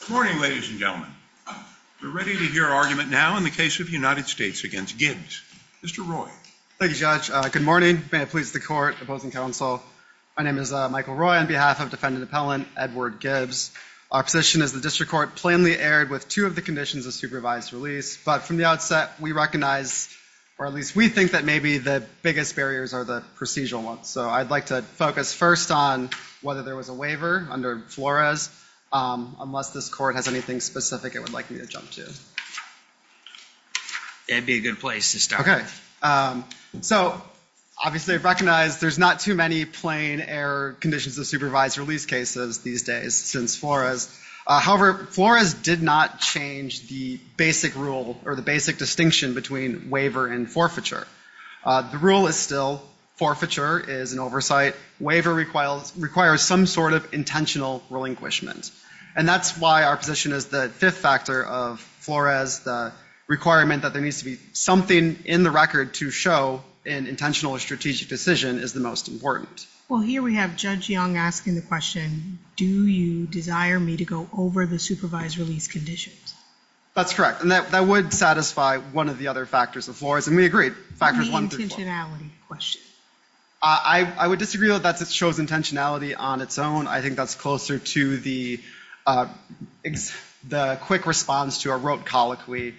Good morning ladies and gentlemen. We're ready to hear argument now in the case of United States against Gibbs. Mr. Roy. Thank you judge. Good morning. May it please the court opposing counsel. My name is Michael Roy on behalf of defendant appellant Edward Gibbs. Our position is the district court plainly erred with two of the conditions of supervised release but from the outset we recognize or at least we think that maybe the biggest barriers are the procedural ones. So I'd like to focus first on whether there was a waiver under Flores. Unless this court has anything specific it would like me to jump to. It'd be a good place to start. Okay so obviously recognize there's not too many plain error conditions of supervised release cases these days since Flores. However Flores did not change the basic rule or the basic distinction between waiver and forfeiture. The rule is still forfeiture is an oversight. Waiver requires some sort of intentional relinquishment and that's why our position is the fifth factor of Flores. The requirement that there needs to be something in the record to show an intentional or strategic decision is the most important. Well here we have Judge Young asking the question do you desire me to go over the supervised release conditions? That's correct and that would satisfy one of the other factors of Flores and we I would disagree with that. It shows intentionality on its own. I think that's closer to the quick response to a rote colloquy.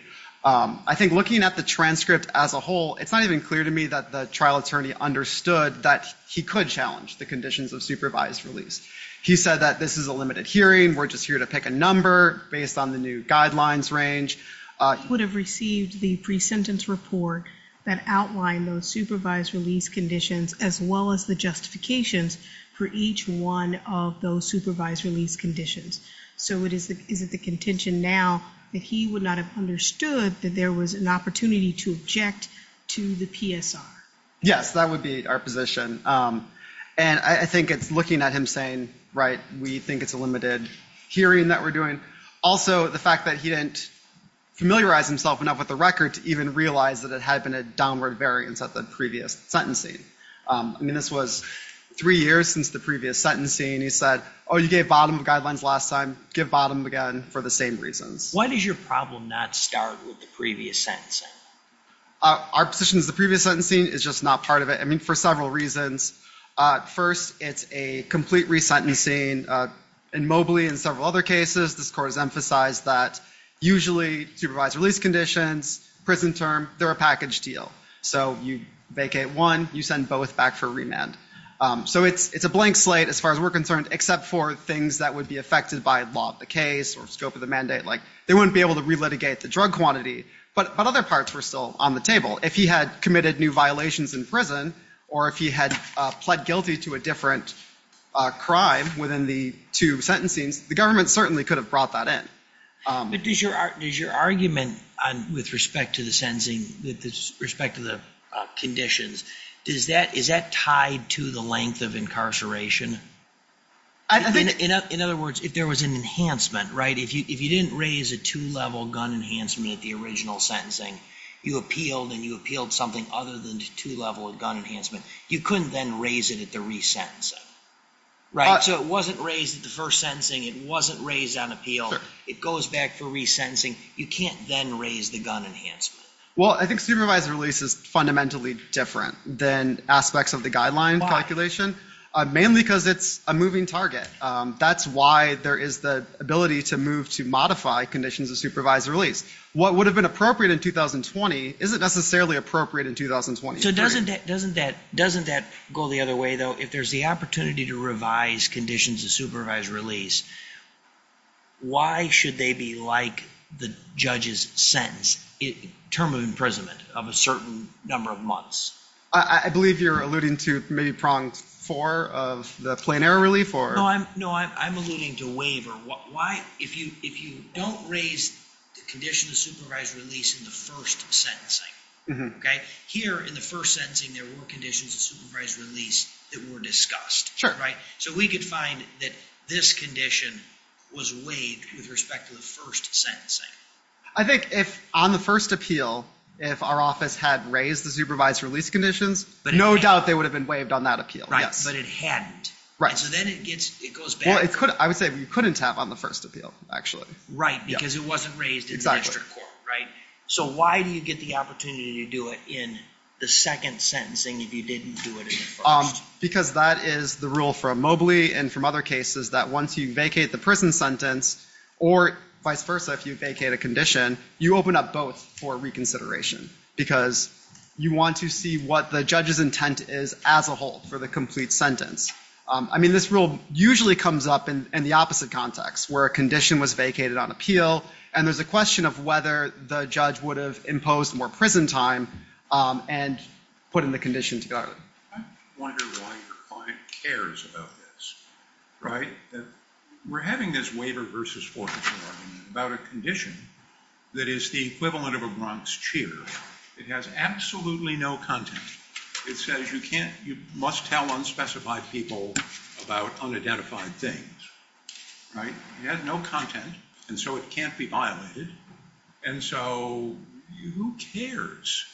I think looking at the transcript as a whole it's not even clear to me that the trial attorney understood that he could challenge the conditions of supervised release. He said that this is a limited hearing we're just here to pick a number based on the guidelines range. He would have received the pre-sentence report that outlined those supervised release conditions as well as the justifications for each one of those supervised release conditions. So is it the contention now that he would not have understood that there was an opportunity to object to the PSR? Yes that would be our position and I think it's looking at him saying right we think it's a limited hearing that we're doing. Also the fact that he didn't familiarize himself enough with the record to even realize that it had been a downward variance at the previous sentencing. I mean this was three years since the previous sentencing. He said oh you gave bottom of guidelines last time give bottom again for the same reasons. Why does your problem not start with the previous sentencing? Our position is the previous sentencing is just not part of it. I mean for several reasons. First it's a complete resentencing and mobily in several other cases this court has emphasized that usually supervised release conditions prison term they're a package deal. So you vacate one you send both back for remand. So it's it's a blank slate as far as we're concerned except for things that would be affected by law of the case or scope of the mandate like they wouldn't be able to relitigate the drug quantity but but other parts were still on the table. If he had committed new violations in or if he had pled guilty to a different crime within the two sentencings the government certainly could have brought that in. But does your argument on with respect to the sentencing with respect to the conditions does that is that tied to the length of incarceration? In other words if there was an enhancement right if you if you didn't raise a two-level gun enhancement at the original sentencing you appealed and you appealed something other than two level gun enhancement you couldn't then raise it at the re-sentencing. Right so it wasn't raised at the first sentencing it wasn't raised on appeal it goes back for resentencing you can't then raise the gun enhancement. Well I think supervised release is fundamentally different than aspects of the guideline calculation mainly because it's a moving target that's why there is the ability to move to modify conditions of supervised release. What would have been appropriate in 2020 isn't necessarily appropriate in 2020. So doesn't that doesn't that doesn't that go the other way though if there's the opportunity to revise conditions of supervised release why should they be like the judge's sentence in term of imprisonment of a certain number of months? I believe you're alluding to maybe pronged for of the plain error relief or? No I'm no I'm alluding to waiver. Why if you if you don't raise the condition of supervised release in the first sentencing okay here in the first sentencing there were conditions of supervised release that were discussed. Sure. Right so we could find that this condition was waived with respect to the first sentencing. I think if on the first appeal if our office had raised the supervised release conditions but no doubt they would have been waived on that appeal. Right but it hadn't. Right. So then it gets it goes back. Well it could I would say we couldn't have on the first appeal actually. Right because it wasn't raised. Exactly. So why do you get the opportunity to do it in the second sentencing if you didn't do it? Because that is the rule for a Mobley and from other cases that once you vacate the prison sentence or vice versa if you vacate a condition you open up both for reconsideration because you want to see what the judge's intent is as a whole for the complete sentence. I mean this rule usually comes up in the opposite context where a condition was vacated on appeal and there's a question of whether the judge would have imposed more prison time and put in the condition to go. I wonder why your client cares about this. Right. We're having this waiver versus forensic argument about a condition that is the equivalent of a Bronx cheer. It has absolutely no content. It says you can't you must tell unspecified people about unidentified things. Right. It has no content and so it can't be violated and so who cares?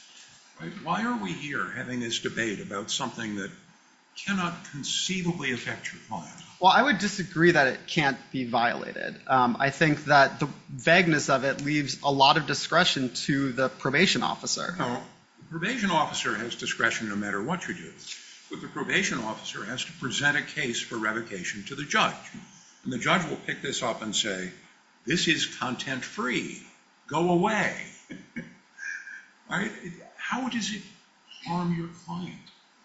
Why are we here having this debate about something that cannot conceivably affect your client? Well I would disagree that it can't be violated. I think that the vagueness of it leaves a lot of discretion to the probation officer. No. The probation officer has discretion no matter what you do. But the probation officer has to present a case for revocation to the judge and the judge will pick this up and say this is content-free. Go away. Right. How does it harm your client?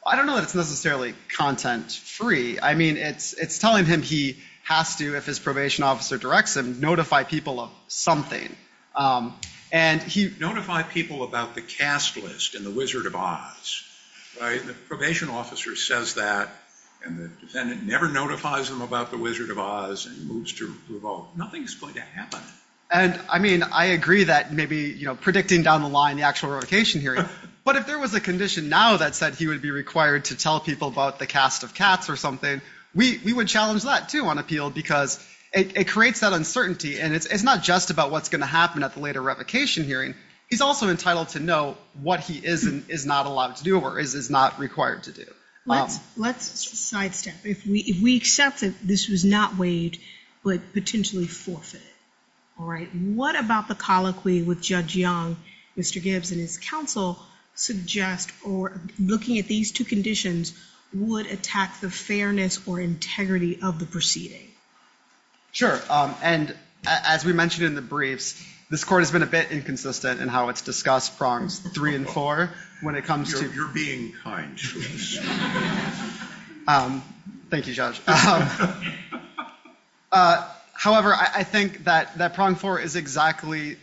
I don't know that it's necessarily content-free. I mean it's it's telling him he has to, if his probation officer directs him, notify people of something and he... Notify people about the cast list and the Wizard of Oz. Right. The probation officer says that and the defendant never notifies him about the Wizard of Oz and moves to revolt. Nothing's going to happen. And I mean I agree that maybe you know predicting down the line the actual revocation hearing, but if there was a condition now that said he would be required to tell people about the cast of cats or something, we would challenge that too on appeal because it creates that uncertainty and it's not just about what's going to happen at the later revocation hearing. He's also entitled to know what he is and is not allowed to do or is not required to do. Let's sidestep. If we accept that this was not waived but potentially forfeited. All right. What about the colloquy with Judge Young, Mr. Gibbs and his counsel suggest or looking at these two conditions would attack the fairness or integrity of the proceeding? Sure. And as we mentioned in the briefs, this court has been a bit inconsistent in how it's discussed prongs three and four when it comes to... You're being kind. Thank you, Judge. However, I think that that prong four is exactly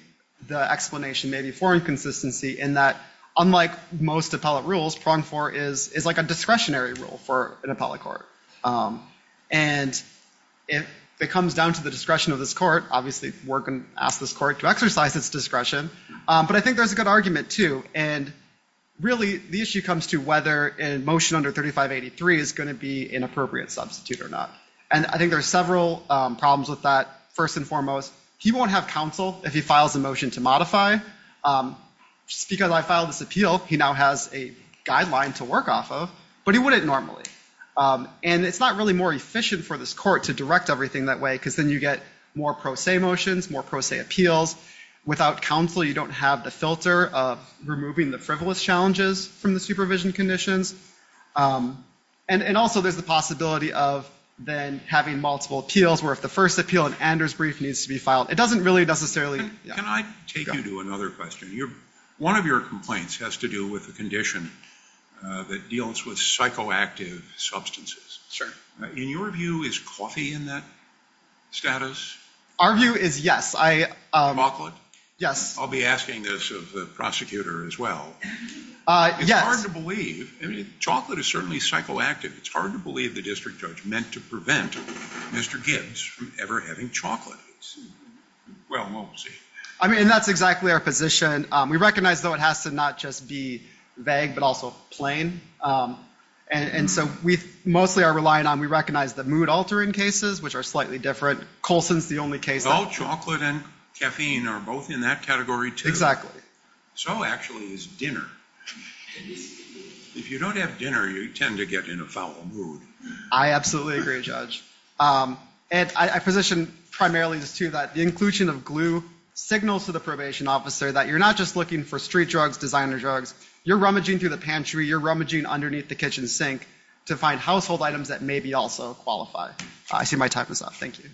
the explanation maybe for inconsistency in that unlike most appellate rules, prong four is is like a discretionary rule for an appellate court. And if it comes down to the discretion of this court, obviously we're going to ask this court to exercise its discretion. But I think there's a good argument too. And really the issue comes to whether a motion under 3583 is going to be an appropriate substitute or not. And I think there's several problems with that. First and foremost, he won't have counsel if he files a motion to modify. Just because I filed this appeal, he now has a guideline to work off of, but he wouldn't normally. And it's not really more efficient for this court to direct everything that way because then you get more pro se motions, more pro se appeals. Without counsel, you don't have the filter of removing the frivolous challenges from the supervision conditions. And also there's the possibility of then having multiple appeals where if the first appeal in Anders' brief needs to be filed, it doesn't really necessarily... Can I take you to another question? One of your complaints has to do with the condition that deals with psychoactive substances. In your view, is coffee in that status? Our view is yes. Chocolate? Yes. I'll be asking this of the prosecutor as well. It's hard to believe. Chocolate is certainly psychoactive. It's hard to believe the district judge meant to prevent Mr. Gibbs from ever having chocolate. Well, we'll see. I mean that's exactly our position. We recognize though it has to not just be vague, but also plain. And so we mostly are relying on, we recognize the mood altering cases, which are slightly different. Coulson's the only case that... Well, chocolate and caffeine are both in that category too. Exactly. So actually is dinner. If you don't have dinner, you tend to get in a foul mood. I absolutely agree, Judge. And I position primarily this too that the inclusion of glue signals to the probation officer that you're not just looking for street drugs, designer drugs. You're rummaging through the pantry. You're rummaging underneath the kitchen sink to find household items that may be also qualified. I see my time is up. Thank you.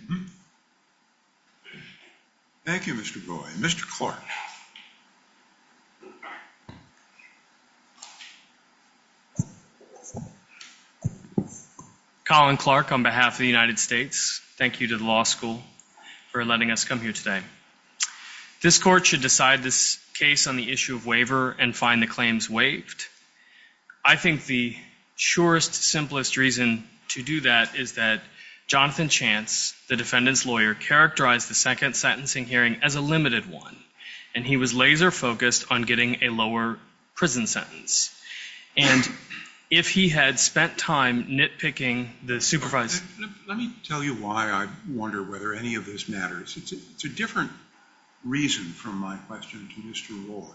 Thank you, Mr. Boyd. Mr. Clark. Colin Clark on behalf of the United States. Thank you to the law school for letting us come here today. This court should decide this case on the issue of waiver and find the claims waived. I think the surest, simplest reason to do that is that Jonathan Chance, the defendant's lawyer, characterized the second sentencing hearing as a limited one. And he was laser focused on getting a lower prison sentence. And if he had spent time nitpicking the supervisor... Let me tell you why I wonder whether any of this matters. It's a different reason from my question to Mr. Roy.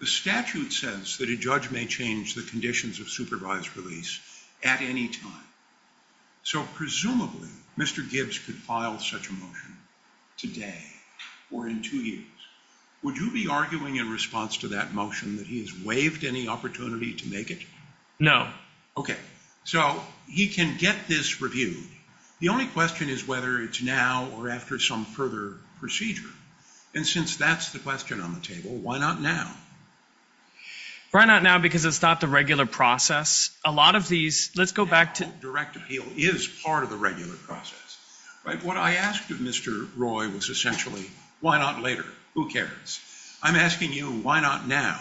The statute says that a judge may change the conditions of supervised release at any time. So presumably, Mr. Gibbs could file such a motion today or in two years. Would you be arguing in response to that motion that he has waived any opportunity to make it? No. Okay, so he can get this reviewed. The only question is whether it's now or after some further procedure. And since that's the question on the table, why not now? Why not now because it's not the regular process? A lot of these... Let's go back to... Direct appeal is part of the regular process. What I asked of Mr. Roy was essentially, why not later? Who cares? I'm asking you, why not now?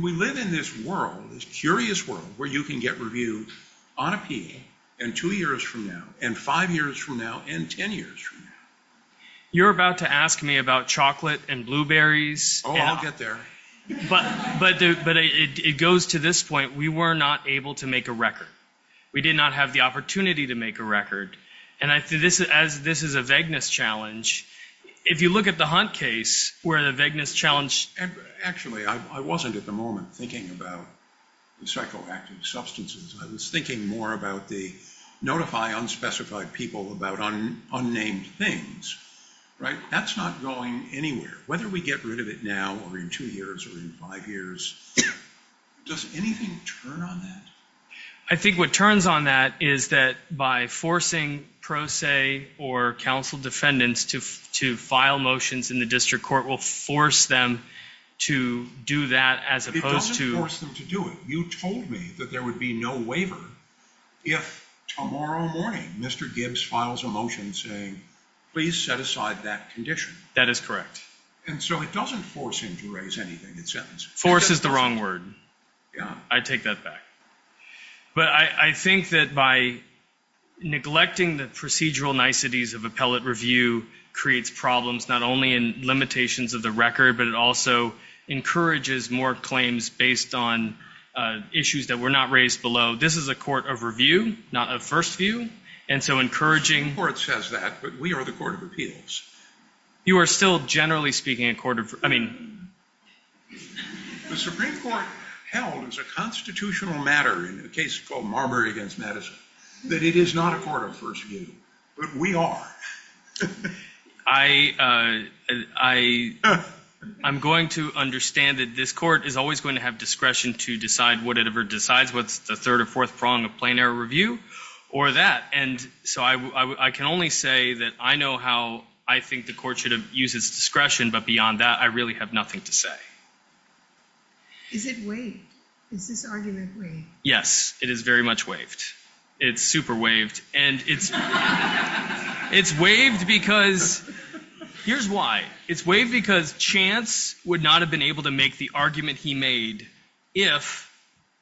We live in this world, this curious world, where you can get reviewed on appeal and two years from now and five years from now and ten years from now. You're about to ask me about chocolate and blueberries. Oh, I'll get there. But it goes to this point, we were not able to make a record. We did not have the opportunity to make a record. And as this is a vagueness challenge, if you look at the Hunt case where the vagueness challenge... Actually, I wasn't at the moment thinking about psychoactive substances. I was thinking more about the notify unspecified people about unnamed things, right? That's not going anywhere. Whether we get rid of it now or in two years or in five years, does anything turn on that? I think what turns on that is that by forcing pro se or counsel defendants to file motions in the district court will force them to do that as opposed to... It doesn't force them to do it. You told me that there would be no waiver if tomorrow morning Mr. Gibbs files a motion saying, please set aside that condition. That is correct. And so it doesn't force him to raise anything in sentence. Force is the wrong word. Yeah. I take that back. But I think that by neglecting the procedural niceties of appellate review creates problems not only in limitations of the record but it also encourages more claims based on issues that were not raised below. This is a court of review, not a first view. And so encouraging... The Supreme Court says that, but we are the court of appeals. You are still generally speaking a court of... I mean... The Supreme Court held as a constitutional matter in a case called Marbury against Madison that it is not a court of first view, but we are. I'm going to understand that this court is always going to have discretion to decide whatever decides what's the third or fourth prong of plain error review or that. And so I can only say that I know how I think the court should have used its discretion, but beyond that I really have nothing to say. Is it waived? Is this argument waived? Yes, it is very much waived. It's super waived. And it's waived because... Here's why. It's waived because Chance would not have been able to make the argument he made if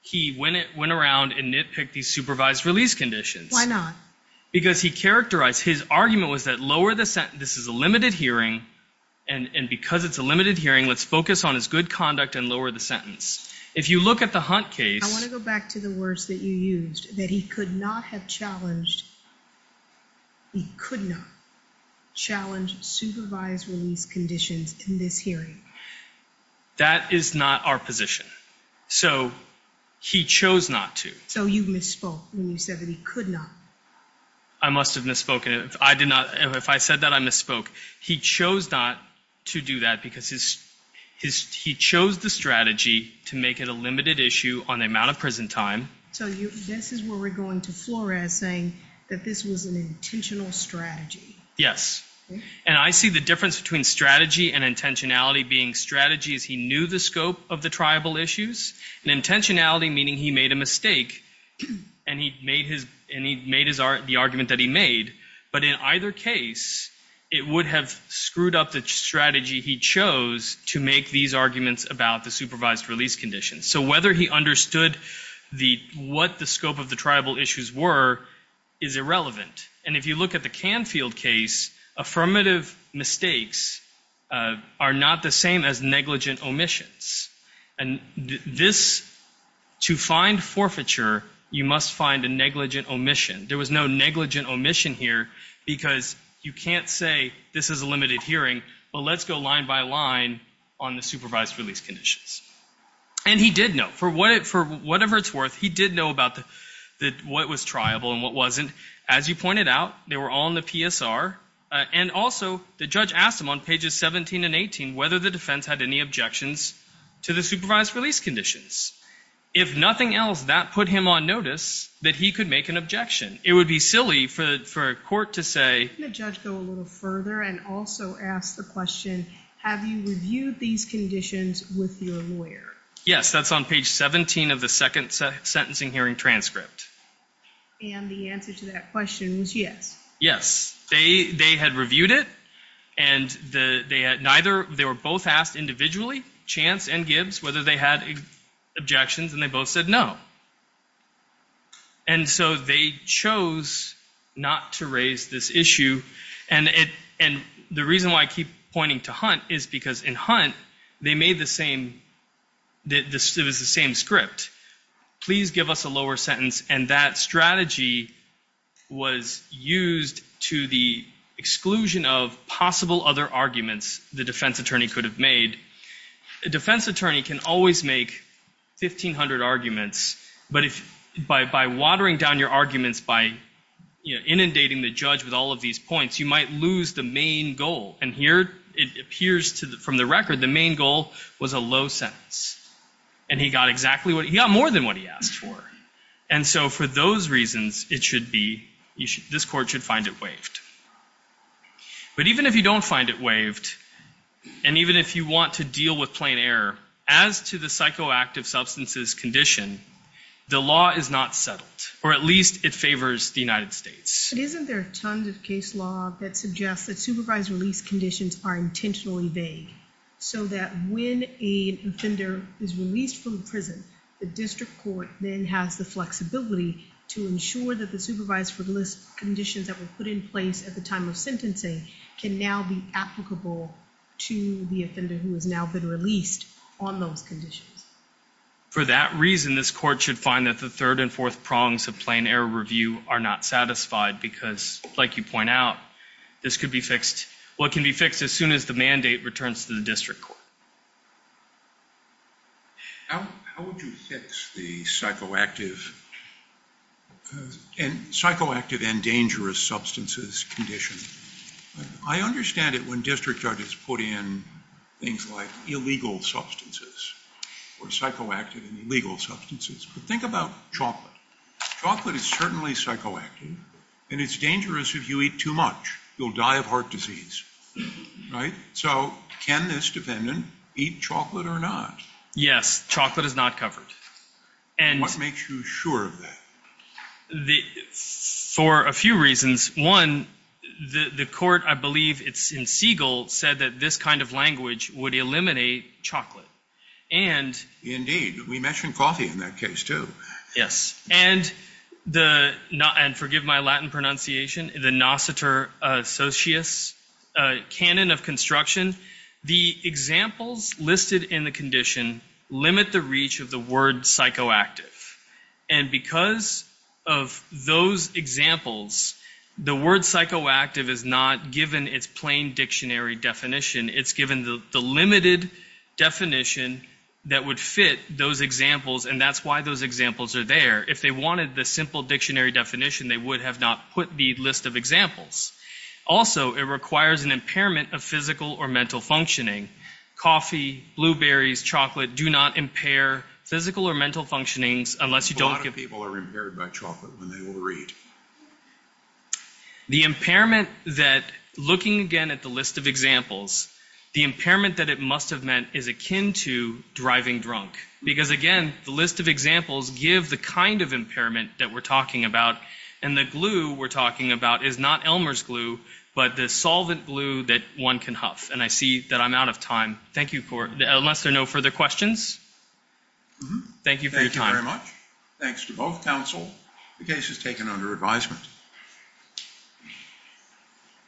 he went around and nitpicked these supervised release conditions. Why not? Because he characterized... His argument was that lower the sentence... This is a limited hearing and because it's a limited hearing, let's focus on his good conduct and lower the sentence. If you look at the Hunt case... I want to go back to the words that you used. That he could not have challenged... He could not challenge supervised release conditions in this hearing. That is not our position. So he chose not to. So you misspoke when you said that he could not. I must have misspoken. If I did not... If I said that, I misspoke. He chose not to do that because his... He chose the strategy to make it a limited issue on the amount of prison time. So this is where we're going to Flores saying that this was an intentional strategy. Yes. And I see the difference between strategy and intentionality being strategies. He knew the scope of the tribal issues and intentionality meaning he made a mistake and he made his... And he made the argument that he made. But in either case, it would have screwed up the strategy he chose to make these arguments about the supervised release conditions. So whether he understood what the scope of the tribal issues were is irrelevant. And if you look at the Canfield case, affirmative mistakes are not the same as negligent omissions. And this... To find forfeiture, you must find a negligent omission. There was no negligent omission here because you can't say this is a limited hearing, but let's go line by line on the supervised release conditions. And he did know. For whatever it's worth, he did know about what was tribal and what wasn't. As you pointed out, they were all in the PSR. And also, the judge asked him on pages 17 and 18 whether the defense had any objections to the supervised release conditions. If nothing else, that put him on notice that he could make an objection. It would be silly for a court to say... Can the judge go a little further and also ask the question, have you reviewed these conditions with your lawyer? Yes, that's on page 17 of the second sentencing hearing transcript. And the answer to that question was yes. Yes, they had reviewed it, and they were both asked individually, Chance and Gibbs, whether they had objections, and they both said no. And so they chose not to raise this issue. And the reason why I keep pointing to Hunt is because in Hunt, it was the same script. Please give us a lower sentence. And that strategy was used to the exclusion of possible other arguments the defense attorney could have made. A defense attorney can always make 1,500 arguments, but by watering down your arguments, by inundating the judge with all of these points, you might lose the main goal. And here, it appears from the record, the main goal was a low sentence. And he got exactly what... He got more than what he asked for. And so for those reasons, it should be... This court should find it waived. But even if you don't find it waived, and even if you want to deal with plain error, as to the psychoactive substances condition, the law is not settled, or at least it favors the United States. But isn't there tons of case law that suggests that supervised release conditions are intentionally vague, so that when an offender is released from prison, the district court then has the flexibility to ensure that the supervised release conditions that were put in place at the time of sentencing can now be applicable to the offender who has now been released on those conditions. For that reason, this court should find that the third and fourth prongs of plain error review are not satisfied, because like you point out, this could be fixed. What can be fixed as soon as the mandate returns to the district court. How would you fix the psychoactive and dangerous substances condition? I understand it when district judges put in things like illegal substances, or psychoactive and illegal substances. But think about chocolate. Chocolate is certainly psychoactive, and it's dangerous if you eat too much. You'll die of heart disease. So can this defendant eat chocolate or not? Yes, chocolate is not covered. What makes you sure of that? For a few reasons. One, the court, I believe it's in Siegel, said that this kind of language would eliminate chocolate. Indeed, we mentioned coffee in that case too. Yes, and forgive my Latin pronunciation, the nociter socius canon of construction, the examples listed in the condition limit the reach of the word psychoactive. And because of those examples, the word psychoactive is not given its plain dictionary definition. It's given the limited definition that would fit those examples, and that's why those examples are there. If they wanted the simple dictionary definition, they would have not put the list of examples. Also, it requires an impairment of physical or mental functioning. Coffee, blueberries, chocolate do not impair physical or mental functionings unless you don't give... A lot of people are impaired by chocolate when they will read. The impairment that, looking again at the list of examples, the impairment that it must have meant is akin to driving drunk. Because again, the list of examples give the kind of impairment that we're talking about, and the glue we're talking about is not Elmer's glue, but the solvent glue that one can huff. And I see that I'm out of time. Thank you, unless there are no further questions. Thank you for your time. Thank you very much. Thanks to both counsel. The case is taken under advisement.